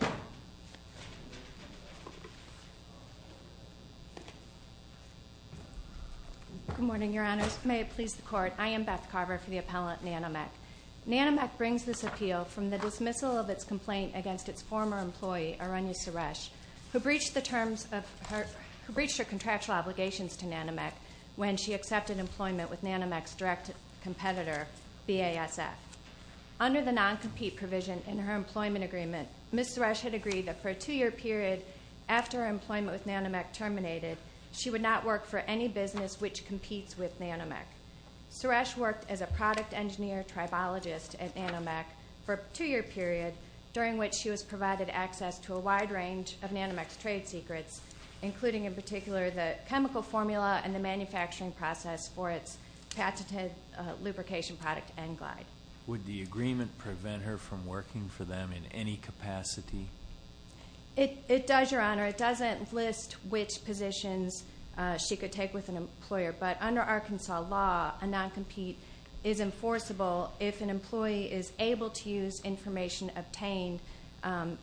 Good morning, Your Honors. May it please the Court, I am Beth Carver for the appellant Nanomech. Nanomech brings this appeal from the dismissal of its complaint against its former employee, Arunya Suresh, who breached her contractual obligations to Nanomech when she accepted employment with Nanomech's direct competitor, BASF. Under the non-compete provision in her employment agreement, Ms. Suresh had agreed that for a two-year period after her employment with Nanomech terminated, she would not work for any business which competes with Nanomech. Suresh worked as a product engineer tribologist at Nanomech for a two-year period during which she was provided access to a wide range of Nanomech's trade secrets, including in particular the chemical formula and the manufacturing process for its patented lubrication product, N-Glide. Would the agreement prevent her from working for them in any capacity? It does, Your Honor. It doesn't list which positions she could take with an employer, but under Arkansas law, a non-compete is enforceable if an employee is able to use information obtained,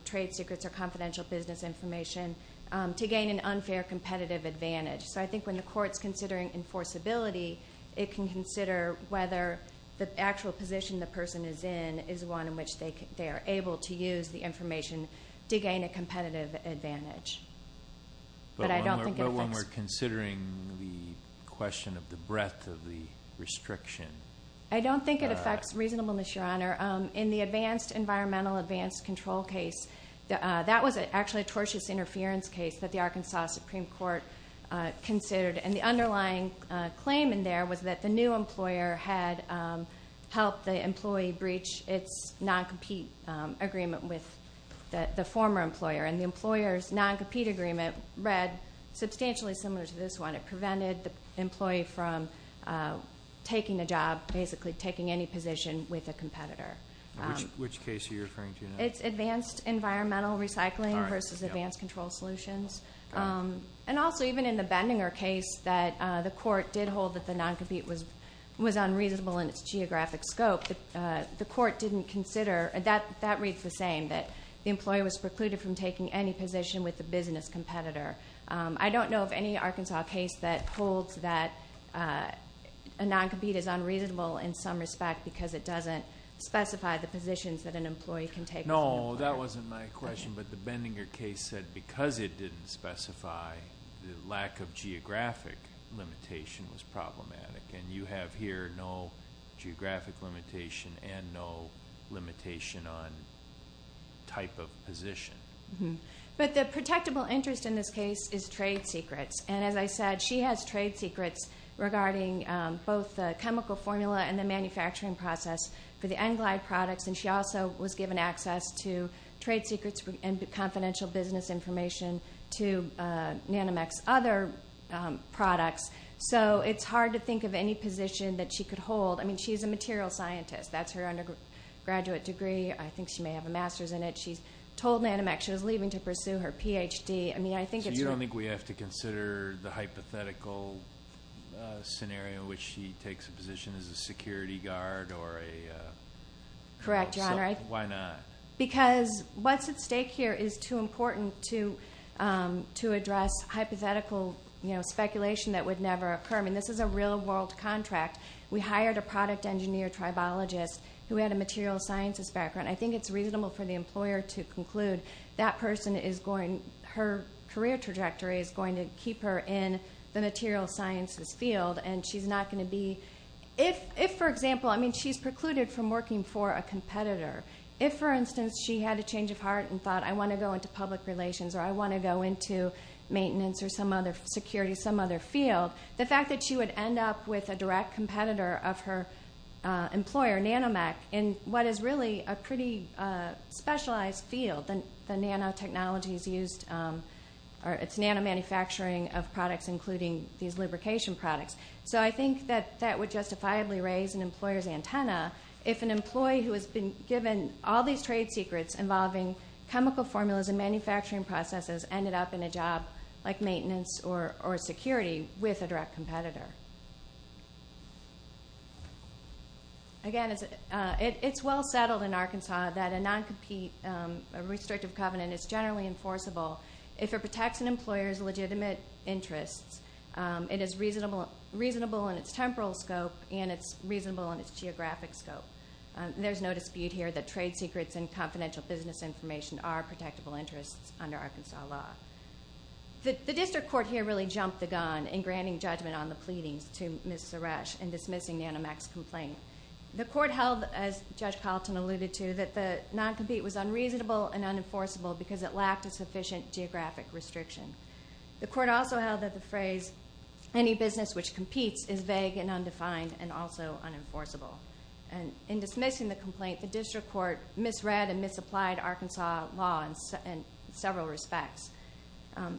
trade secrets or confidential business information, to gain an unfair competitive advantage. So I think when the court's considering enforceability, it can consider whether the actual position the person is in is one in which they are able to use the information to gain a competitive advantage. But I don't think it affects... But when we're considering the question of the breadth of the restriction... I don't think it affects reasonableness, Your Honor. In the advanced environmental advanced control case, that was actually a tortious interference case that the Arkansas Supreme Court considered. And the underlying claim in there was that the new employer had helped the employee breach its non-compete agreement with the former employer. And the employer's non-compete agreement read substantially similar to this one. It prevented the employee from taking a job, basically taking any position with a competitor. Which case are you referring to now? It's advanced environmental recycling versus advanced control solutions. And also even in the Bendinger case that the court did hold that the non-compete was unreasonable in its geographic scope, the court didn't consider... That reads the same, that the employee was precluded from taking any position with the business competitor. I don't know of any Arkansas case that holds that a non-compete is unreasonable in some respect because it doesn't specify the positions that an employee can take. No, that wasn't my question. But the Bendinger case said because it didn't specify the lack of geographic limitation was problematic. And you have here no geographic limitation and no limitation on type of position. But the protectable interest in this case is trade secrets. And as I said, she has trade secrets regarding both the chemical formula and the manufacturing process for the N-Glide products. And she also was given access to trade secrets and confidential business information to Nanomex other products. So it's hard to think of any position that she could hold. She's a material scientist. That's her undergraduate degree. I think she may have a master's in it. She's told Nanomex she was leaving to pursue her PhD. I mean, I think it's... So you don't think we have to consider the hypothetical scenario in which she takes a position as a security guard or a... Correct, John. Why not? Because what's at stake here is too important to address hypothetical speculation that would never occur. I mean, this is a real world contract. We hired a product engineer tribologist who had a material sciences background. I think it's reasonable for the employer to conclude that person is going... Her career trajectory is going to keep her in the material sciences field. And she's not going to be... If, for example, I mean, she's precluded from working for a competitor. If, for instance, she had a change of heart and thought, I want to go into public relations or I want to go into maintenance or some other security, some other field, the fact that she would end up with a direct competitor of her employer, Nanomex, in what is really a pretty specialized field. The nanotechnology is used... It's nanomanufacturing of products, including these lubrication products. So I think that that would justifiably raise an employer's antenna if an employee who has been given all these trade secrets involving chemical formulas and manufacturing processes ended up in a security with a direct competitor. Again, it's well settled in Arkansas that a non-compete, a restrictive covenant is generally enforceable if it protects an employer's legitimate interests. It is reasonable in its temporal scope and it's reasonable in its geographic scope. There's no dispute here that trade secrets and confidential business information are protectable interests under Arkansas law. The district court here really jumped the gun in granting judgment on the pleadings to Ms. Suresh in dismissing Nanomex's complaint. The court held, as Judge Carlton alluded to, that the non-compete was unreasonable and unenforceable because it lacked a sufficient geographic restriction. The court also held that the phrase, any business which competes, is vague and undefined and also unenforceable. In dismissing the complaint, the district court misread and misapplied Arkansas law in several respects.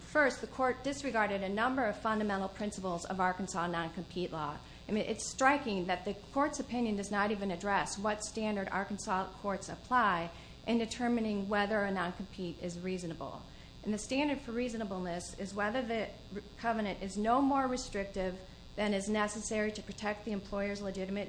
First, the court disregarded a number of fundamental principles of Arkansas non-compete law. It's striking that the court's opinion does not even address what standard Arkansas courts apply in determining whether a non-compete is reasonable. The standard for reasonableness is whether the covenant is no more restrictive than is necessary to protect the employer's interests.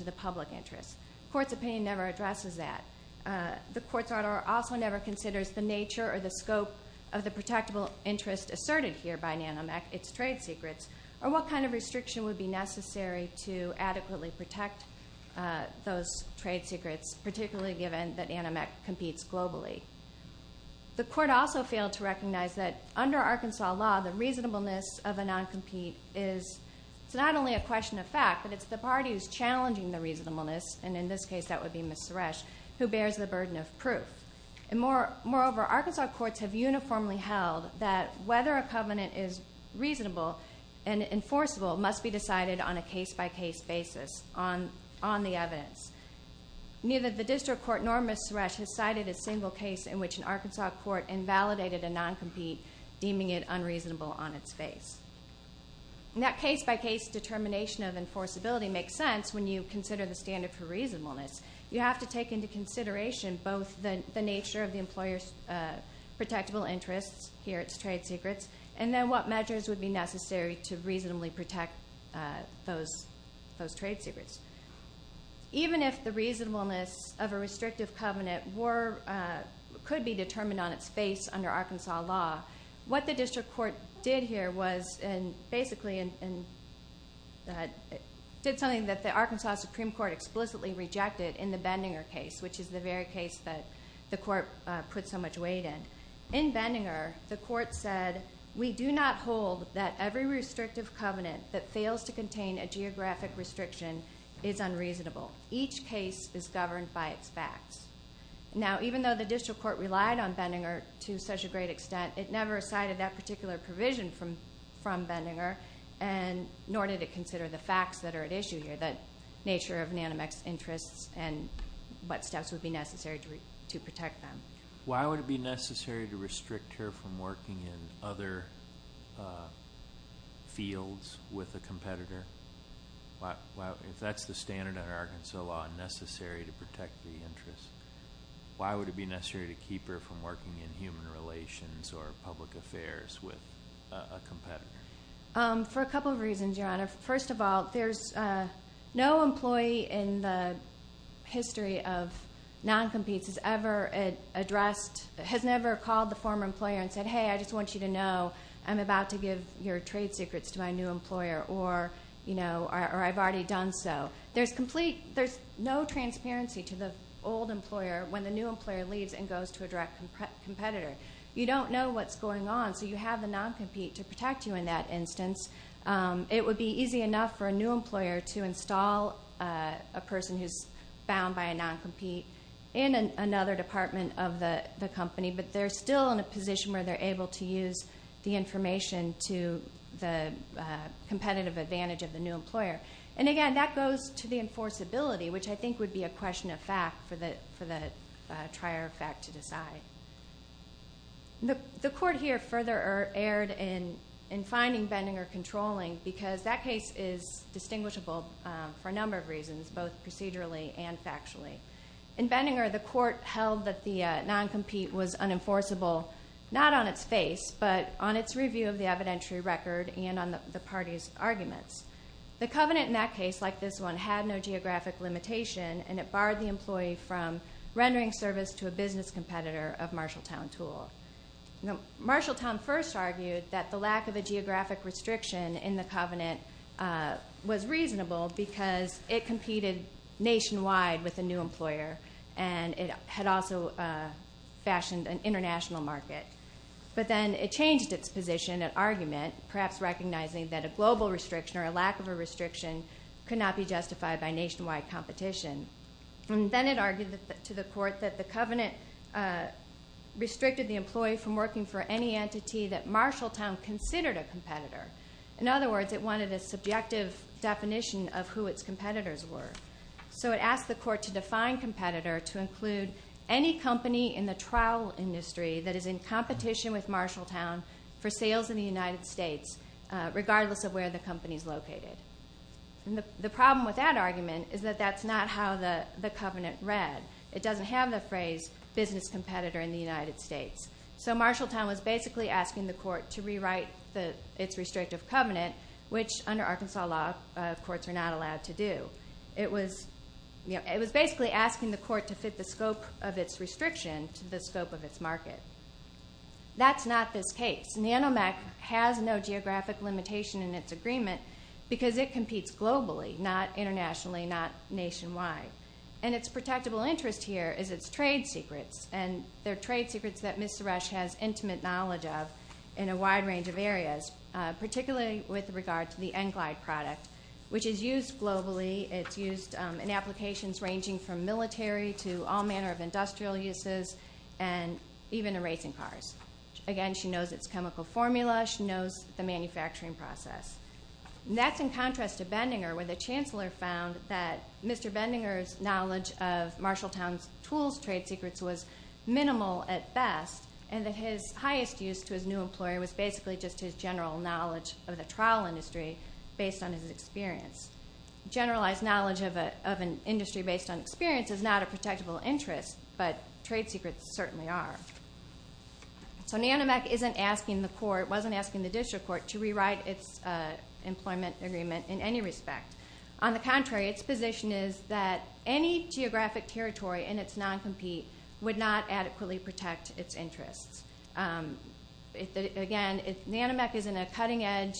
The court's opinion never addresses that. The court's order also never considers the nature or the scope of the protectable interest asserted here by Nanomex, its trade secrets, or what kind of restriction would be necessary to adequately protect those trade secrets, particularly given that Nanomex competes globally. The court also failed to recognize that under Arkansas law, the reasonableness of a non-compete is not only a question of fact, but it's the party who's challenging the reasonableness, and in this case that would be Ms. Suresh, who bears the burden of proof. Moreover, Arkansas courts have uniformly held that whether a covenant is reasonable and enforceable must be decided on a case-by-case basis on the evidence. Neither the district court nor Ms. Suresh has cited a single case in which an Arkansas court invalidated a non-compete, deeming it unreasonable on its face. In that case-by-case determination of enforceability makes sense when you consider the standard for reasonableness. You have to take into consideration both the nature of the employer's protectable interests, here its trade secrets, and then what measures would be necessary to reasonably protect those trade secrets. Even if the reasonableness of a restrictive covenant could be determined on its face under Arkansas law, what the district court did here was basically something that the Arkansas Supreme Court explicitly rejected in the Bendinger case, which is the very case that the court put so much weight in. In Bendinger, the court said, we do not hold that every restrictive covenant that fails to contain a geographic restriction is unreasonable. Each case is governed by its facts. Now, even though the district court relied on Bendinger to such a great extent, it never cited that particular provision from Bendinger, nor did it consider the facts that are at issue here, the nature of Nanamec's interests and what steps would be necessary to protect them. Why would it be necessary to restrict her from working in other fields with a competitor? If that's the standard under Arkansas law, necessary to protect the interest, why would it be necessary to keep her from working in human relations or public affairs with a competitor? For a couple of reasons, Your Honor. First of all, there's no employee in the history of non-competes has ever addressed, has never called the former employer and said, hey, I just want you to know I'm about to give your trade secrets to my new employer or I've already done so. There's no transparency to the old employer when the new employer leaves and goes to a direct competitor. You don't know what's going on, so you have the non-compete to protect you in that instance. It would be easy enough for a new employer to install a person who's bound by a non-compete in another department of the company, but they're still in a position where they're able to use the information to the competitive advantage of the new employer. Again, that goes to the enforceability, which I think would be a question of fact for the trier of fact to decide. The court here further erred in finding Benninger controlling because that case is distinguishable for a number of reasons, both procedurally and factually. In Benninger, the court held that the non-compete was unenforceable, not on its face, but on its review of the evidentiary record and on the party's arguments. The covenant in that case, like this one, had no geographic limitation and it barred the employee from rendering service to a business competitor of Marshalltown Tool. Marshalltown first argued that the lack of a geographic restriction in the covenant was reasonable because it competed nationwide with a new employer and it had also fashioned an international market. But then it changed its position and argument, perhaps recognizing that a global restriction or a lack of a restriction could not be justified by nationwide competition. Then it argued to the court that the covenant restricted the employee from working for any entity that Marshalltown considered a competitor. In other words, it wanted a subjective definition of who its competitors were. So it asked the court to exclude any company in the trowel industry that is in competition with Marshalltown for sales in the United States, regardless of where the company is located. The problem with that argument is that that's not how the covenant read. It doesn't have the phrase business competitor in the United States. So Marshalltown was basically asking the court to rewrite its restrictive covenant, which under Arkansas law, courts are not allowed to do. It was basically asking the court to fit the scope of its restriction to the scope of its market. That's not this case. NanoMAC has no geographic limitation in its agreement because it competes globally, not internationally, not nationwide. And its protectable interest here is its trade secrets. And they're trade secrets that Ms. Suresh has intimate knowledge of in a wide range of areas, particularly with regard to the Englide product, which is used globally. It's used in applications ranging from military to all manner of industrial uses and even in racing cars. Again, she knows its chemical formula. She knows the manufacturing process. And that's in contrast to Bendinger, where the chancellor found that Mr. Bendinger's knowledge of Marshalltown's tools trade secrets was minimal at best, and that his highest use to his new employer was basically just his general knowledge of the trowel industry based on his experience. Generalized knowledge of an industry based on experience is not a protectable interest, but trade secrets certainly are. So NanoMAC isn't asking the court, wasn't asking the district court, to rewrite its employment agreement in any respect. On the contrary, its position is that any geographic territory in its non-compete would not adequately protect its interests. Again, NanoMAC is in a cutting edge,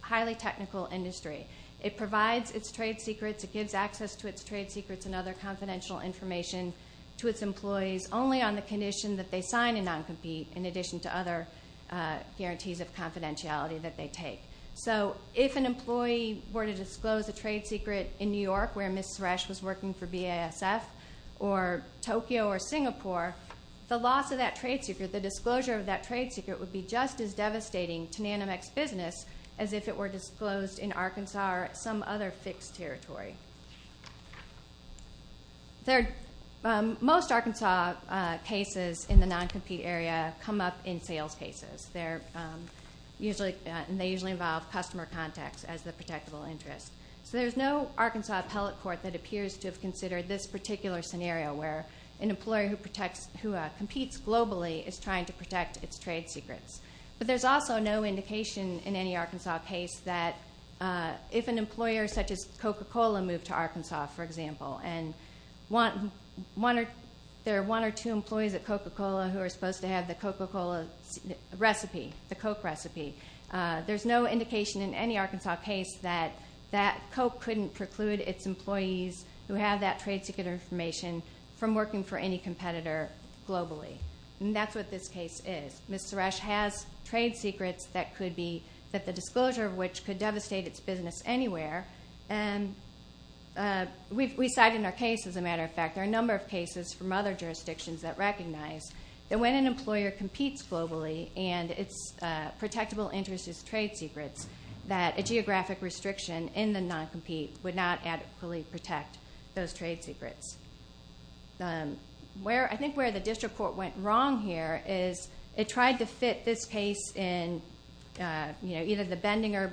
highly technical industry. It provides its trade secrets. It gives access to its trade secrets and other confidential information to its employees only on the condition that they sign a non-compete in addition to other guarantees of confidentiality that they take. So if an employee were to disclose a trade secret in New York, where Ms. Suresh was working for BASF, or Tokyo or Singapore, the loss of that trade secret, the disclosure of that trade secret would be just as devastating to NanoMAC's business as if it were disclosed in Arkansas or some other fixed territory. Most Arkansas cases in the non-compete area come up in sales cases. They usually involve customer contacts as the protectable interest. So there's no Arkansas appellate court that appears to have considered this particular scenario where an employer who competes globally is trying to protect its trade secrets. But there's also no indication in any Arkansas case that if an employer such as Coca-Cola moved to Arkansas, for example, and there are one or two employees at Coca-Cola who are supposed to have the Coca-Cola recipe, the Coke recipe, there's no indication in any Arkansas case that that Coke couldn't preclude its employees who have that trade secret information from working for any competitor globally. And that's what this case is. Ms. Suresh has trade secrets that could be, that the disclosure of which could devastate its business anywhere. We cite in our case, as a matter of fact, there are a number of cases from other jurisdictions that recognize that when an employer competes globally and its protectable interest is trade secrets, that a geographic restriction in the non-compete would not adequately protect those trade secrets. Where, I think where the district court went wrong here is it tried to fit this case in, you know, either the Bendinger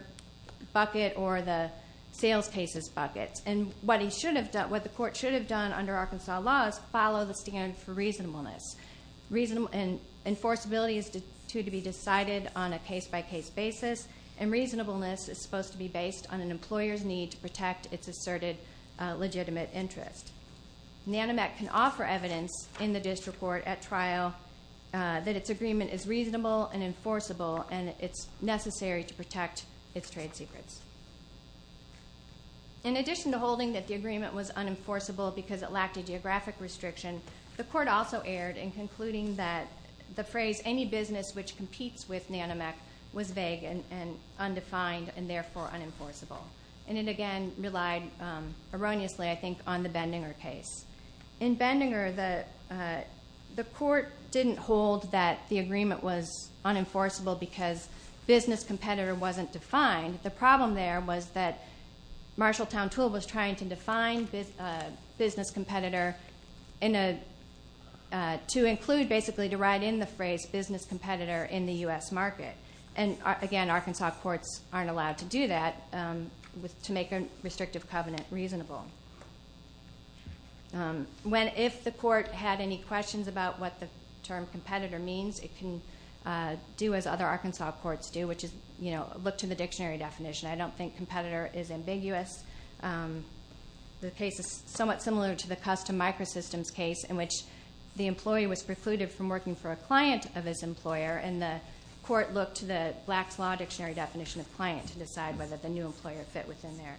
bucket or the sales cases bucket. And what he should have done, what the court should have done under Arkansas law is follow the standard for reasonableness. And enforceability is to be decided on a case by case basis. And reasonableness is supposed to be based on an employer's need to protect its asserted legitimate interest. Nanomec can offer evidence in the district court at trial that its agreement is reasonable and enforceable and it's necessary to protect its trade secrets. In addition to holding that the agreement was unenforceable because it lacked a geographic restriction, the court also erred in concluding that the phrase any business which competes with Nanomec was vague and undefined and therefore unenforceable. And it again relied erroneously, I think, on the Bendinger case. In Bendinger, the court didn't hold that the agreement was unenforceable because business competitor wasn't defined. The problem there was that Marshalltown Tool was trying to define business competitor to include basically to write in the phrase business competitor in the U.S. market. And again, Arkansas courts aren't allowed to do that to make a restrictive covenant reasonable. If the court had any questions about what the term competitor means, it can do as other Arkansas courts do, which is look to the dictionary definition. I don't think competitor is ambiguous. The case is somewhat similar to the custom microsystems case in which the employee was precluded from working for a client of his employer and the court looked to the Black's Law dictionary definition of client to decide whether the new employer fit within there.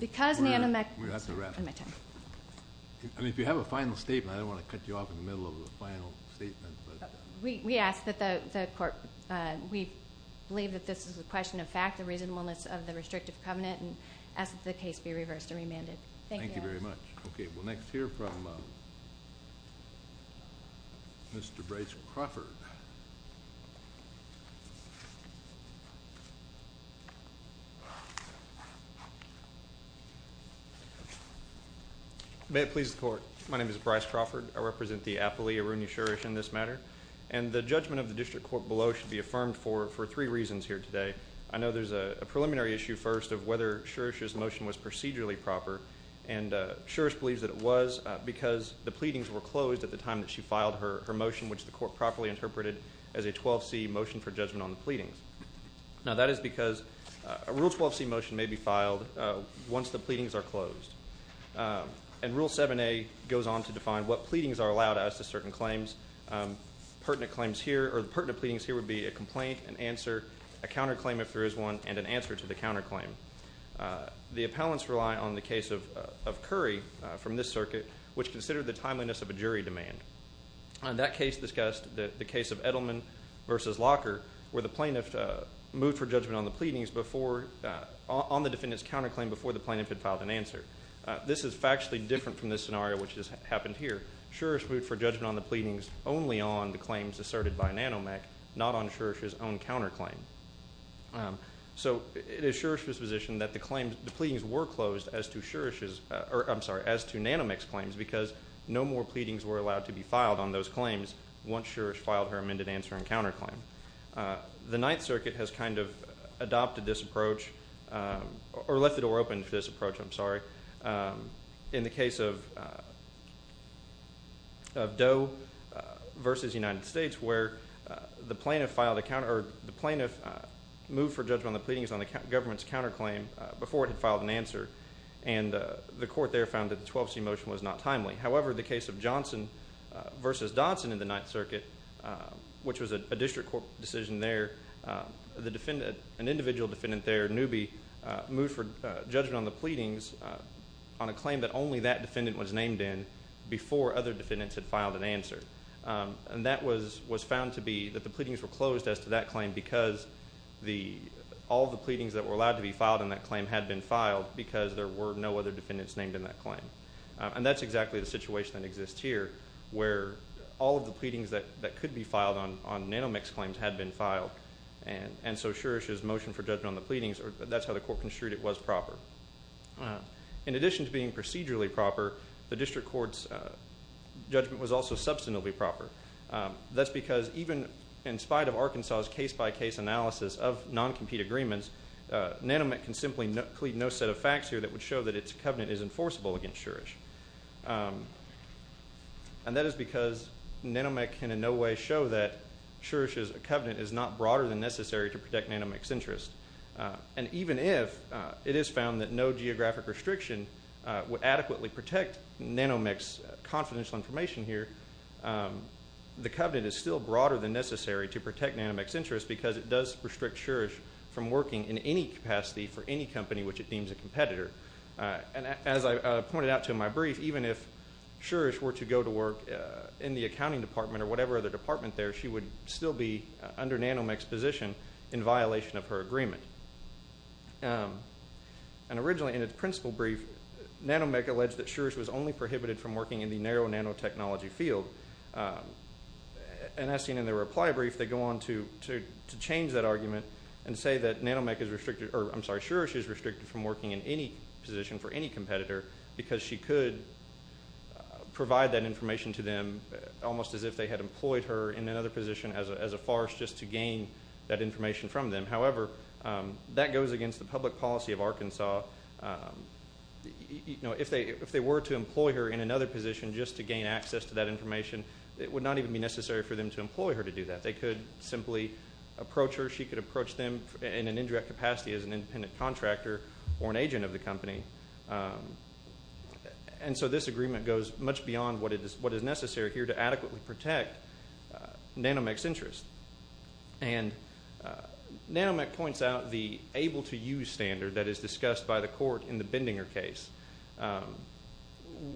If you have a final statement, I don't want to cut you off in the middle of the final statement. We ask that the court, we believe that this is a question of fact, the reasonableness of the restrictive covenant, and ask that the case be reversed and remanded. Thank you. Thank you very much. Okay, we'll next hear from Mr. Bryce Crawford. May it please the court. My name is Bryce Crawford. I represent the Appalachia-Roonee-Sherrish in this matter. And the judgment of the district court below should be affirmed for three reasons here today. I know there's a preliminary issue first of whether Sherrish's motion was procedurally proper. And Sherrish believes that it was because the pleadings were closed at the time that she filed her motion, which the court properly interpreted as a 12C motion for judgment on the pleadings. Now, that is because a Rule 12C motion may be filed once the pleadings are closed. And Rule 7A goes on to define what pleadings are allowed as to certain claims. Pertinent claims here or pertinent pleadings here would be a complaint, an answer, a counterclaim if there is one, and an answer to the counterclaim. The appellants rely on the case of Curry from this circuit, which considered the timeliness of a jury demand. And that case discussed the case of Edelman versus Locker, where the plaintiff moved for judgment on the pleadings before, on the defendant's counterclaim before the plaintiff had filed an answer. This is factually different from this scenario which has happened here. Sherrish moved for judgment on the pleadings only on the claims asserted by Nanomec, not on Sherrish's own counterclaim. So it is Sherrish's position that the claims, the pleadings were closed as to Nanomec's claims because no more pleadings were allowed to be filed on those claims once Sherrish filed her amended answer and counterclaim. The Ninth Circuit has kind of adopted this approach, or left the door open for this approach, I'm sorry, in the case of Doe versus United States, where the plaintiff moved for judgment on the pleadings on the government's counterclaim before it had filed an answer. And the court there found that the 12C motion was not timely. However, the case of Johnson versus Dodson in the Ninth Circuit, which was a district court decision there, an individual defendant there, Newby, moved for judgment on the pleadings on a claim that only that defendant was named in before other defendants had filed an answer. And that was found to be that the pleadings were closed as to that claim because all the pleadings that were allowed to be filed on that claim had been filed because there were no other defendants named in that claim. And that's exactly the situation that exists here, where all of the pleadings that could be filed on Nanomec's claims had been filed. And so Sherrish's motion for judgment on the pleadings, that's how the court construed it, was proper. In addition to being procedurally proper, the district court's judgment was also substantively proper. That's because even in spite of Arkansas's case-by-case analysis of non-compete agreements, Nanomec can simply plead no set of facts here that would show that its covenant is enforceable against Sherrish. And that is because Nanomec can in no way show that Sherrish's covenant is not broader than necessary to protect Nanomec's interests. And even if it is found that no geographic restriction would adequately protect Nanomec's confidential information here, the covenant is still broader than necessary to protect Nanomec's interests because it does restrict Sherrish from working in any capacity for any company which it deems a competitor. And as I pointed out in my brief, even if Sherrish were to go to work in the accounting department or whatever other department there, she would still be under Nanomec's position in violation of her agreement. And originally in its principle brief, Nanomec alleged that Sherrish was only prohibited from working in the narrow nanotechnology field. And as seen in the reply brief, they go on to change that argument and say that Nanomec is restricted, or I'm sorry, Sherrish is restricted from working in any position for any competitor because she could provide that information to them almost as if they had employed her in another position as a farce just to gain that information from them. However, that goes against the public policy of Arkansas. You know, if they were to employ her in another position just to gain access to that information, it would not even be necessary for them to employ her to do that. They could simply approach her. She could approach them in an indirect capacity as an independent contractor or an adequately protect Nanomec's interest. And Nanomec points out the able-to-use standard that is discussed by the court in the Bendinger case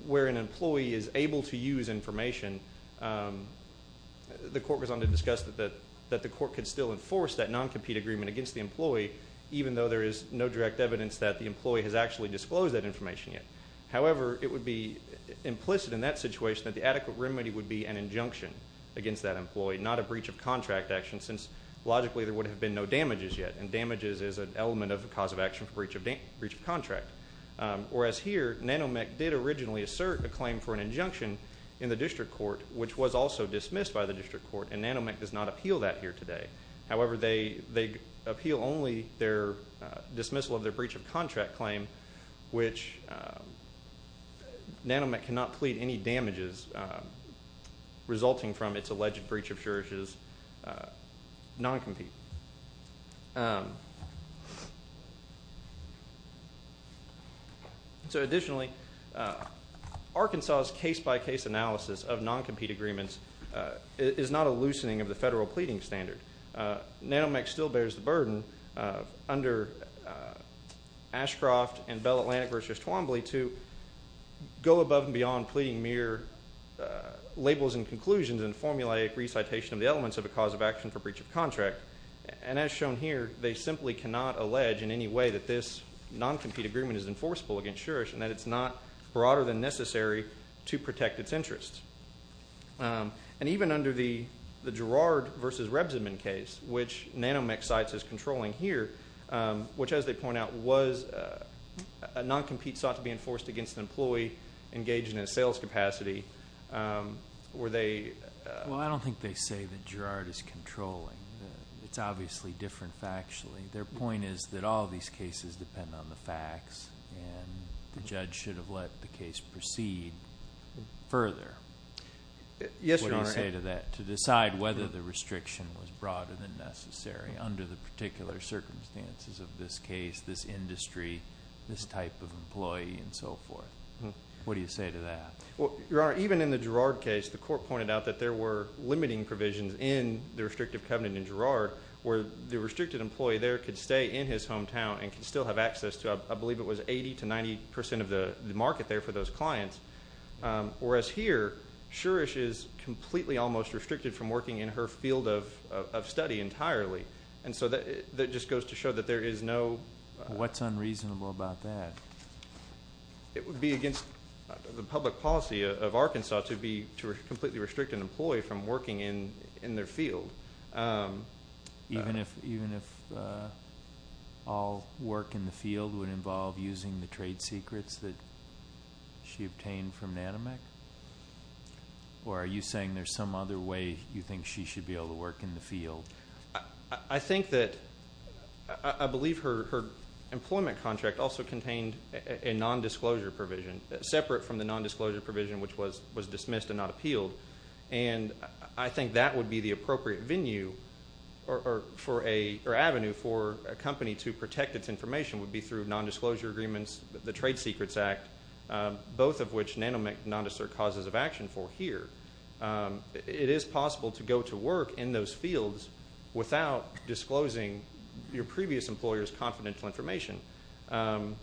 where an employee is able to use information. The court goes on to discuss that the court could still enforce that non-compete agreement against the employee even though there is no direct evidence that the employee has actually disclosed that information yet. However, it would be implicit in that situation that the appropriate remedy would be an injunction against that employee, not a breach of contract action since logically there would have been no damages yet. And damages is an element of the cause of action for breach of contract. Whereas here, Nanomec did originally assert a claim for an injunction in the district court which was also dismissed by the district court and Nanomec does not appeal that here today. However, they appeal only their dismissal of their breach of contract claim which Nanomec cannot plead any damages resulting from its alleged breach of Shurish's non-compete. So additionally, Arkansas's case-by-case analysis of non-compete agreements is not a loosening of the federal pleading standard. Nanomec still bears the burden under Ashcroft and Bell Atlantic v. Twombly to go above and beyond pleading mere labels and conclusions and formulaic recitation of the elements of a cause of action for breach of contract. And as shown here, they simply cannot allege in any way that this non-compete agreement is enforceable against Shurish and that it's not broader than necessary to protect its interests. And even under the Girard v. Rebsenman case, which Nanomec cites as controlling here, which as they point out was a non-compete sought to be enforced against an employee engaged in a sales capacity, were they... Well, I don't think they say that Girard is controlling. It's obviously different factually. Their point is that all these cases depend on the facts and the judge should have let the case proceed further. Yes, Your Honor. What do you say to that, to decide whether the restriction was broader than necessary under the particular circumstances of this case, this industry, this type of employee and so forth? What do you say to that? Well, Your Honor, even in the Girard case, the court pointed out that there were limiting provisions in the restrictive covenant in Girard where the restricted employee there could stay in his hometown and could still have access to, I believe it was 80% to 90% of the market there for those clients. Whereas here, Suresh is completely almost restricted from working in her field of study entirely. And so that just goes to show that there is no... What's unreasonable about that? It would be against the public policy of Arkansas to completely restrict an employee from working in their field. Even if all work in the field would involve using the trade secrets that she obtained from Natomec? Or are you saying there's some other way you think she should be able to work in the field? I think that, I believe her employment contract also contained a nondisclosure provision, separate from the nondisclosure provision, which was dismissed and not appealed. And I think that would be the appropriate venue, or avenue, for a company to protect its information would be through nondisclosure agreements, the Trade Secrets Act, both of which Natomec nondeserve causes of action for here. It is possible to go to work in those fields without disclosing your previous employer's confidential information. And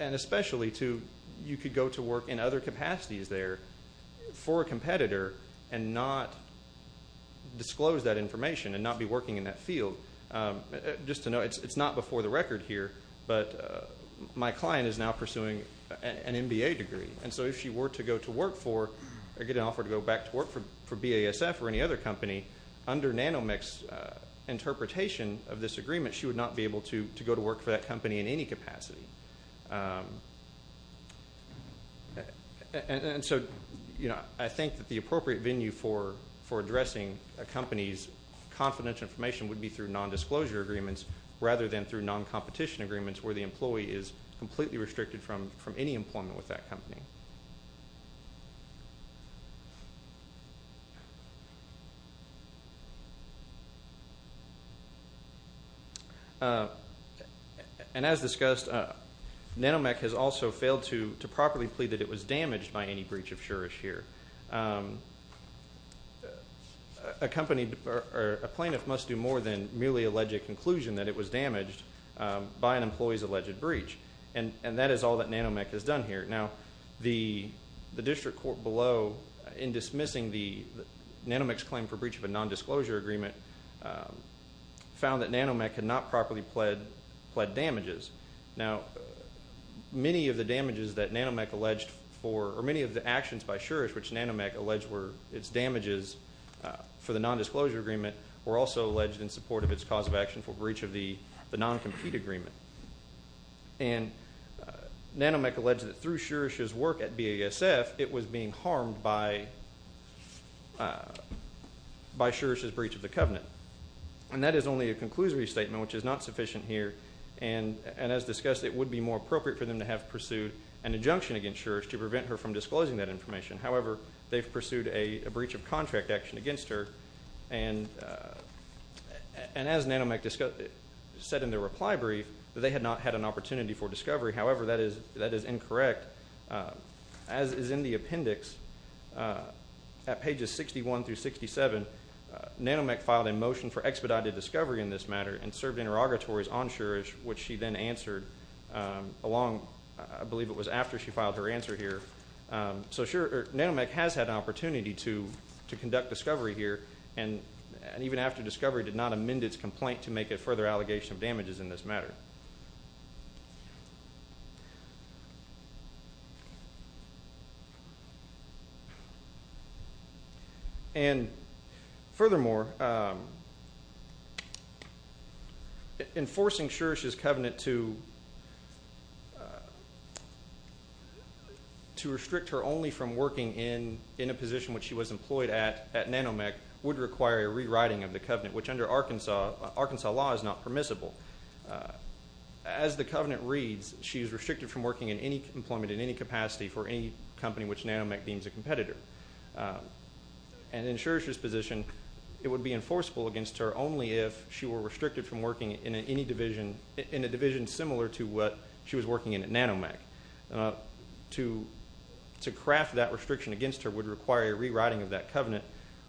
especially to, you could go to work in other capacities there for a competitor and not disclose that information and not be working in that field. Just to note, it's not before the record here, but my client is now pursuing an MBA degree. And so if she were to go to work for, or get an offer to go back to work for BASF or any other company, under Natomec's interpretation of this agreement, she would not be able to go to work for that company in any capacity. And so, you know, I think that the appropriate venue for addressing a company's confidential information would be through nondisclosure agreements rather than through noncompetition agreements where the employee is completely restricted from any employment with that company. And as discussed, Natomec has also failed to properly plead that it was damaged by any breach of sure assure. A company, or a plaintiff must do more than merely allege a conclusion that it was damaged by an employee's alleged breach. And that is all that Natomec has done here. Now, the district court below, in dismissing the, Natomec's claim for breach of a nondisclosure agreement, found that Natomec had not properly pled damages. Now, many of the damages that Natomec alleged for, or many of the actions by sure assure, which Natomec alleged were its damages for the nondisclosure agreement, were also alleged in support of its cause of action for breach of the noncompete agreement. And Natomec alleged that through sure assure's work at BASF, it was being harmed by sure assure's breach of the covenant. And that is only a conclusory statement, which is not sufficient here. And as discussed, it would be more appropriate for them to have pursued an injunction against sure assure to prevent her from disclosing that information. However, they've pursued a breach of contract action against her. And as Natomec said in their reply brief, they had not had an opportunity for discovery. However, that is incorrect. As is in the appendix, at pages 61 through 67, Natomec filed a motion for expedited discovery in this matter and served interrogatories on sure assure, which she then answered along, I believe it was after she filed her answer here. So sure, Natomec has had an opportunity to conduct discovery here, and even after discovery did not amend its complaint to make a further allegation of damages in this matter. And furthermore, enforcing sure assure's covenant to restrict her only from working in a position which she was employed at at Natomec would require a rewriting of the covenant, which under Arkansas law is not permissible. As the covenant reads, she is restricted from working in any employment in any capacity for any company which Natomec deems a competitor. And in sure assure's position, it would be enforceable against her only if she were restricted from working in a division similar to what she was working in at Natomec. To craft that restriction against her would require a rewriting of that covenant,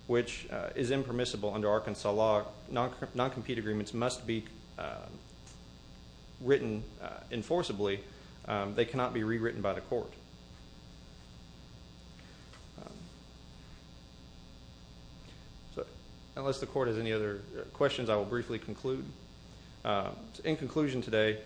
which is impermissible under Arkansas law. Non-compete agreements must be written enforceably. They cannot be rewritten by the court. So unless the court has any other questions, I will briefly conclude. In conclusion today,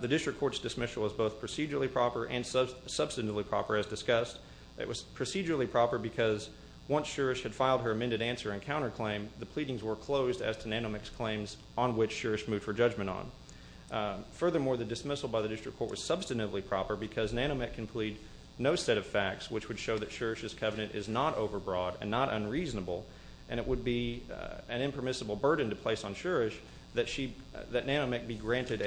the district court's dismissal was both procedurally proper and substantively proper as discussed. It was procedurally proper because once sure assure had filed her amended answer and counterclaim, the pleadings were closed as to Natomec's claims on which sure assure moved for judgment on. Furthermore, the dismissal by the district court was substantively proper because Natomec can plead no set of facts which would show that sure assure's covenant is not overbroad and not unreasonable, and it would be an impermissible burden to place on sure assure that Natomec be granted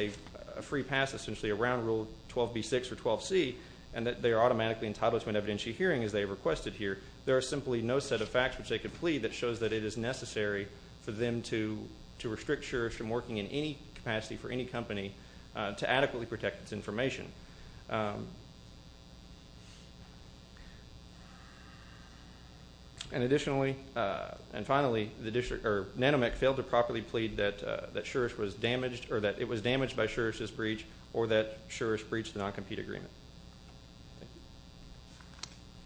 a free pass, essentially a round rule 12B6 or 12C, and that they are automatically entitled to an evidentiary hearing as they requested here. There are simply no set of facts which they could plead that shows that it is necessary for them to restrict sure assure from working in any capacity for any company to adequately protect its information. And additionally, and finally, Natomec failed to properly plead that sure assure was damaged or that it was damaged by sure assure's breach or that sure assure's breached the non-compete agreement.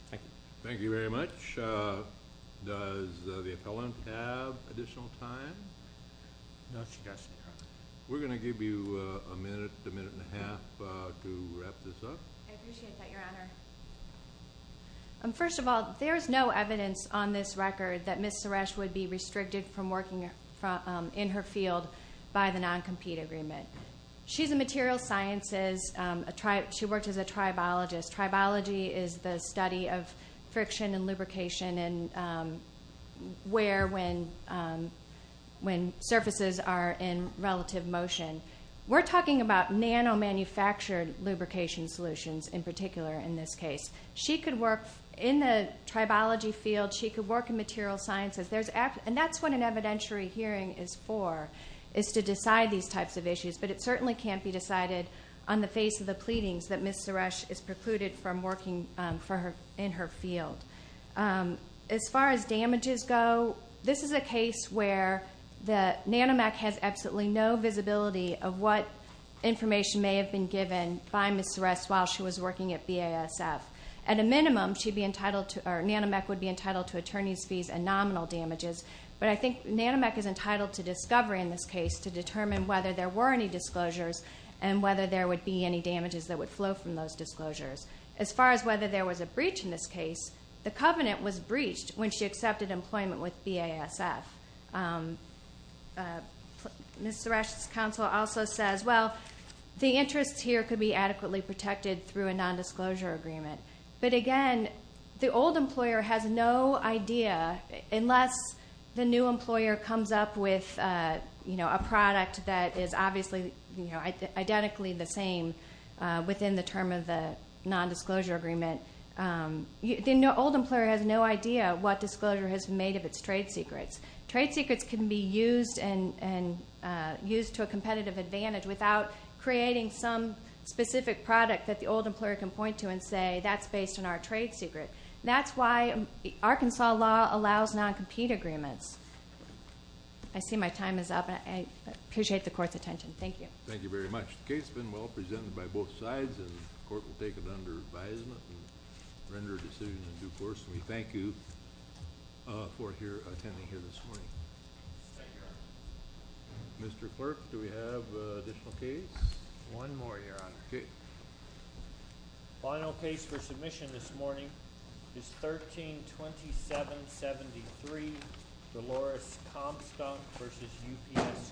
Thank you. Thank you very much. Does the appellant have additional time? No discussion. We're going to give you a minute, a minute and a half to wrap this up. I appreciate that, Your Honor. First of all, there is no evidence on this record that Ms. Suresh would be restricted from working in her field by the non-compete agreement. She's a materials sciences. She works as a tribologist. Tribology is the study of friction and lubrication and where when surfaces are in relative motion. We're talking about nano-manufactured lubrication solutions in particular in this case. She could work in the tribology field. She could work in materials sciences. And that's what an evidentiary hearing is for, is to decide these types of issues. But it certainly can't be decided on the face of the pleadings that Ms. Suresh is precluded from working in her field. As far as damages go, this is a case where the nanomech has absolutely no visibility of what information may have been given by Ms. Suresh while she was working at BASF. At a minimum, nanomech would be entitled to attorney's fees and nominal damages. But I think nanomech is entitled to discovery in this case to determine whether there were any disclosures and whether there would be any damages that would flow from those disclosures. As far as whether there was a breach in this case, the covenant was breached when she accepted employment with BASF. Ms. Suresh's counsel also says, well, the interests here could be adequately protected through a nondisclosure agreement. But again, the old employer has no idea, unless the new employer comes up with a product that is obviously identically the same within the term of the nondisclosure agreement, the old employer has no idea what disclosure has been made of its trade secrets. Trade secrets can be used to a competitive advantage without creating some specific product that the old employer can point to and say that's based on our trade secret. That's why Arkansas law allows non-compete agreements. I see my time is up, and I appreciate the court's attention. Thank you. Thank you very much. The case has been well presented by both sides, and the court will take it under advisement and render a decision in due course. We thank you for attending here this morning. Thank you, Your Honor. Mr. Clerk, do we have an additional case? One more, Your Honor. Okay. The final case for submission this morning is 13-2773, Dolores Comstunk v. UPS Brown.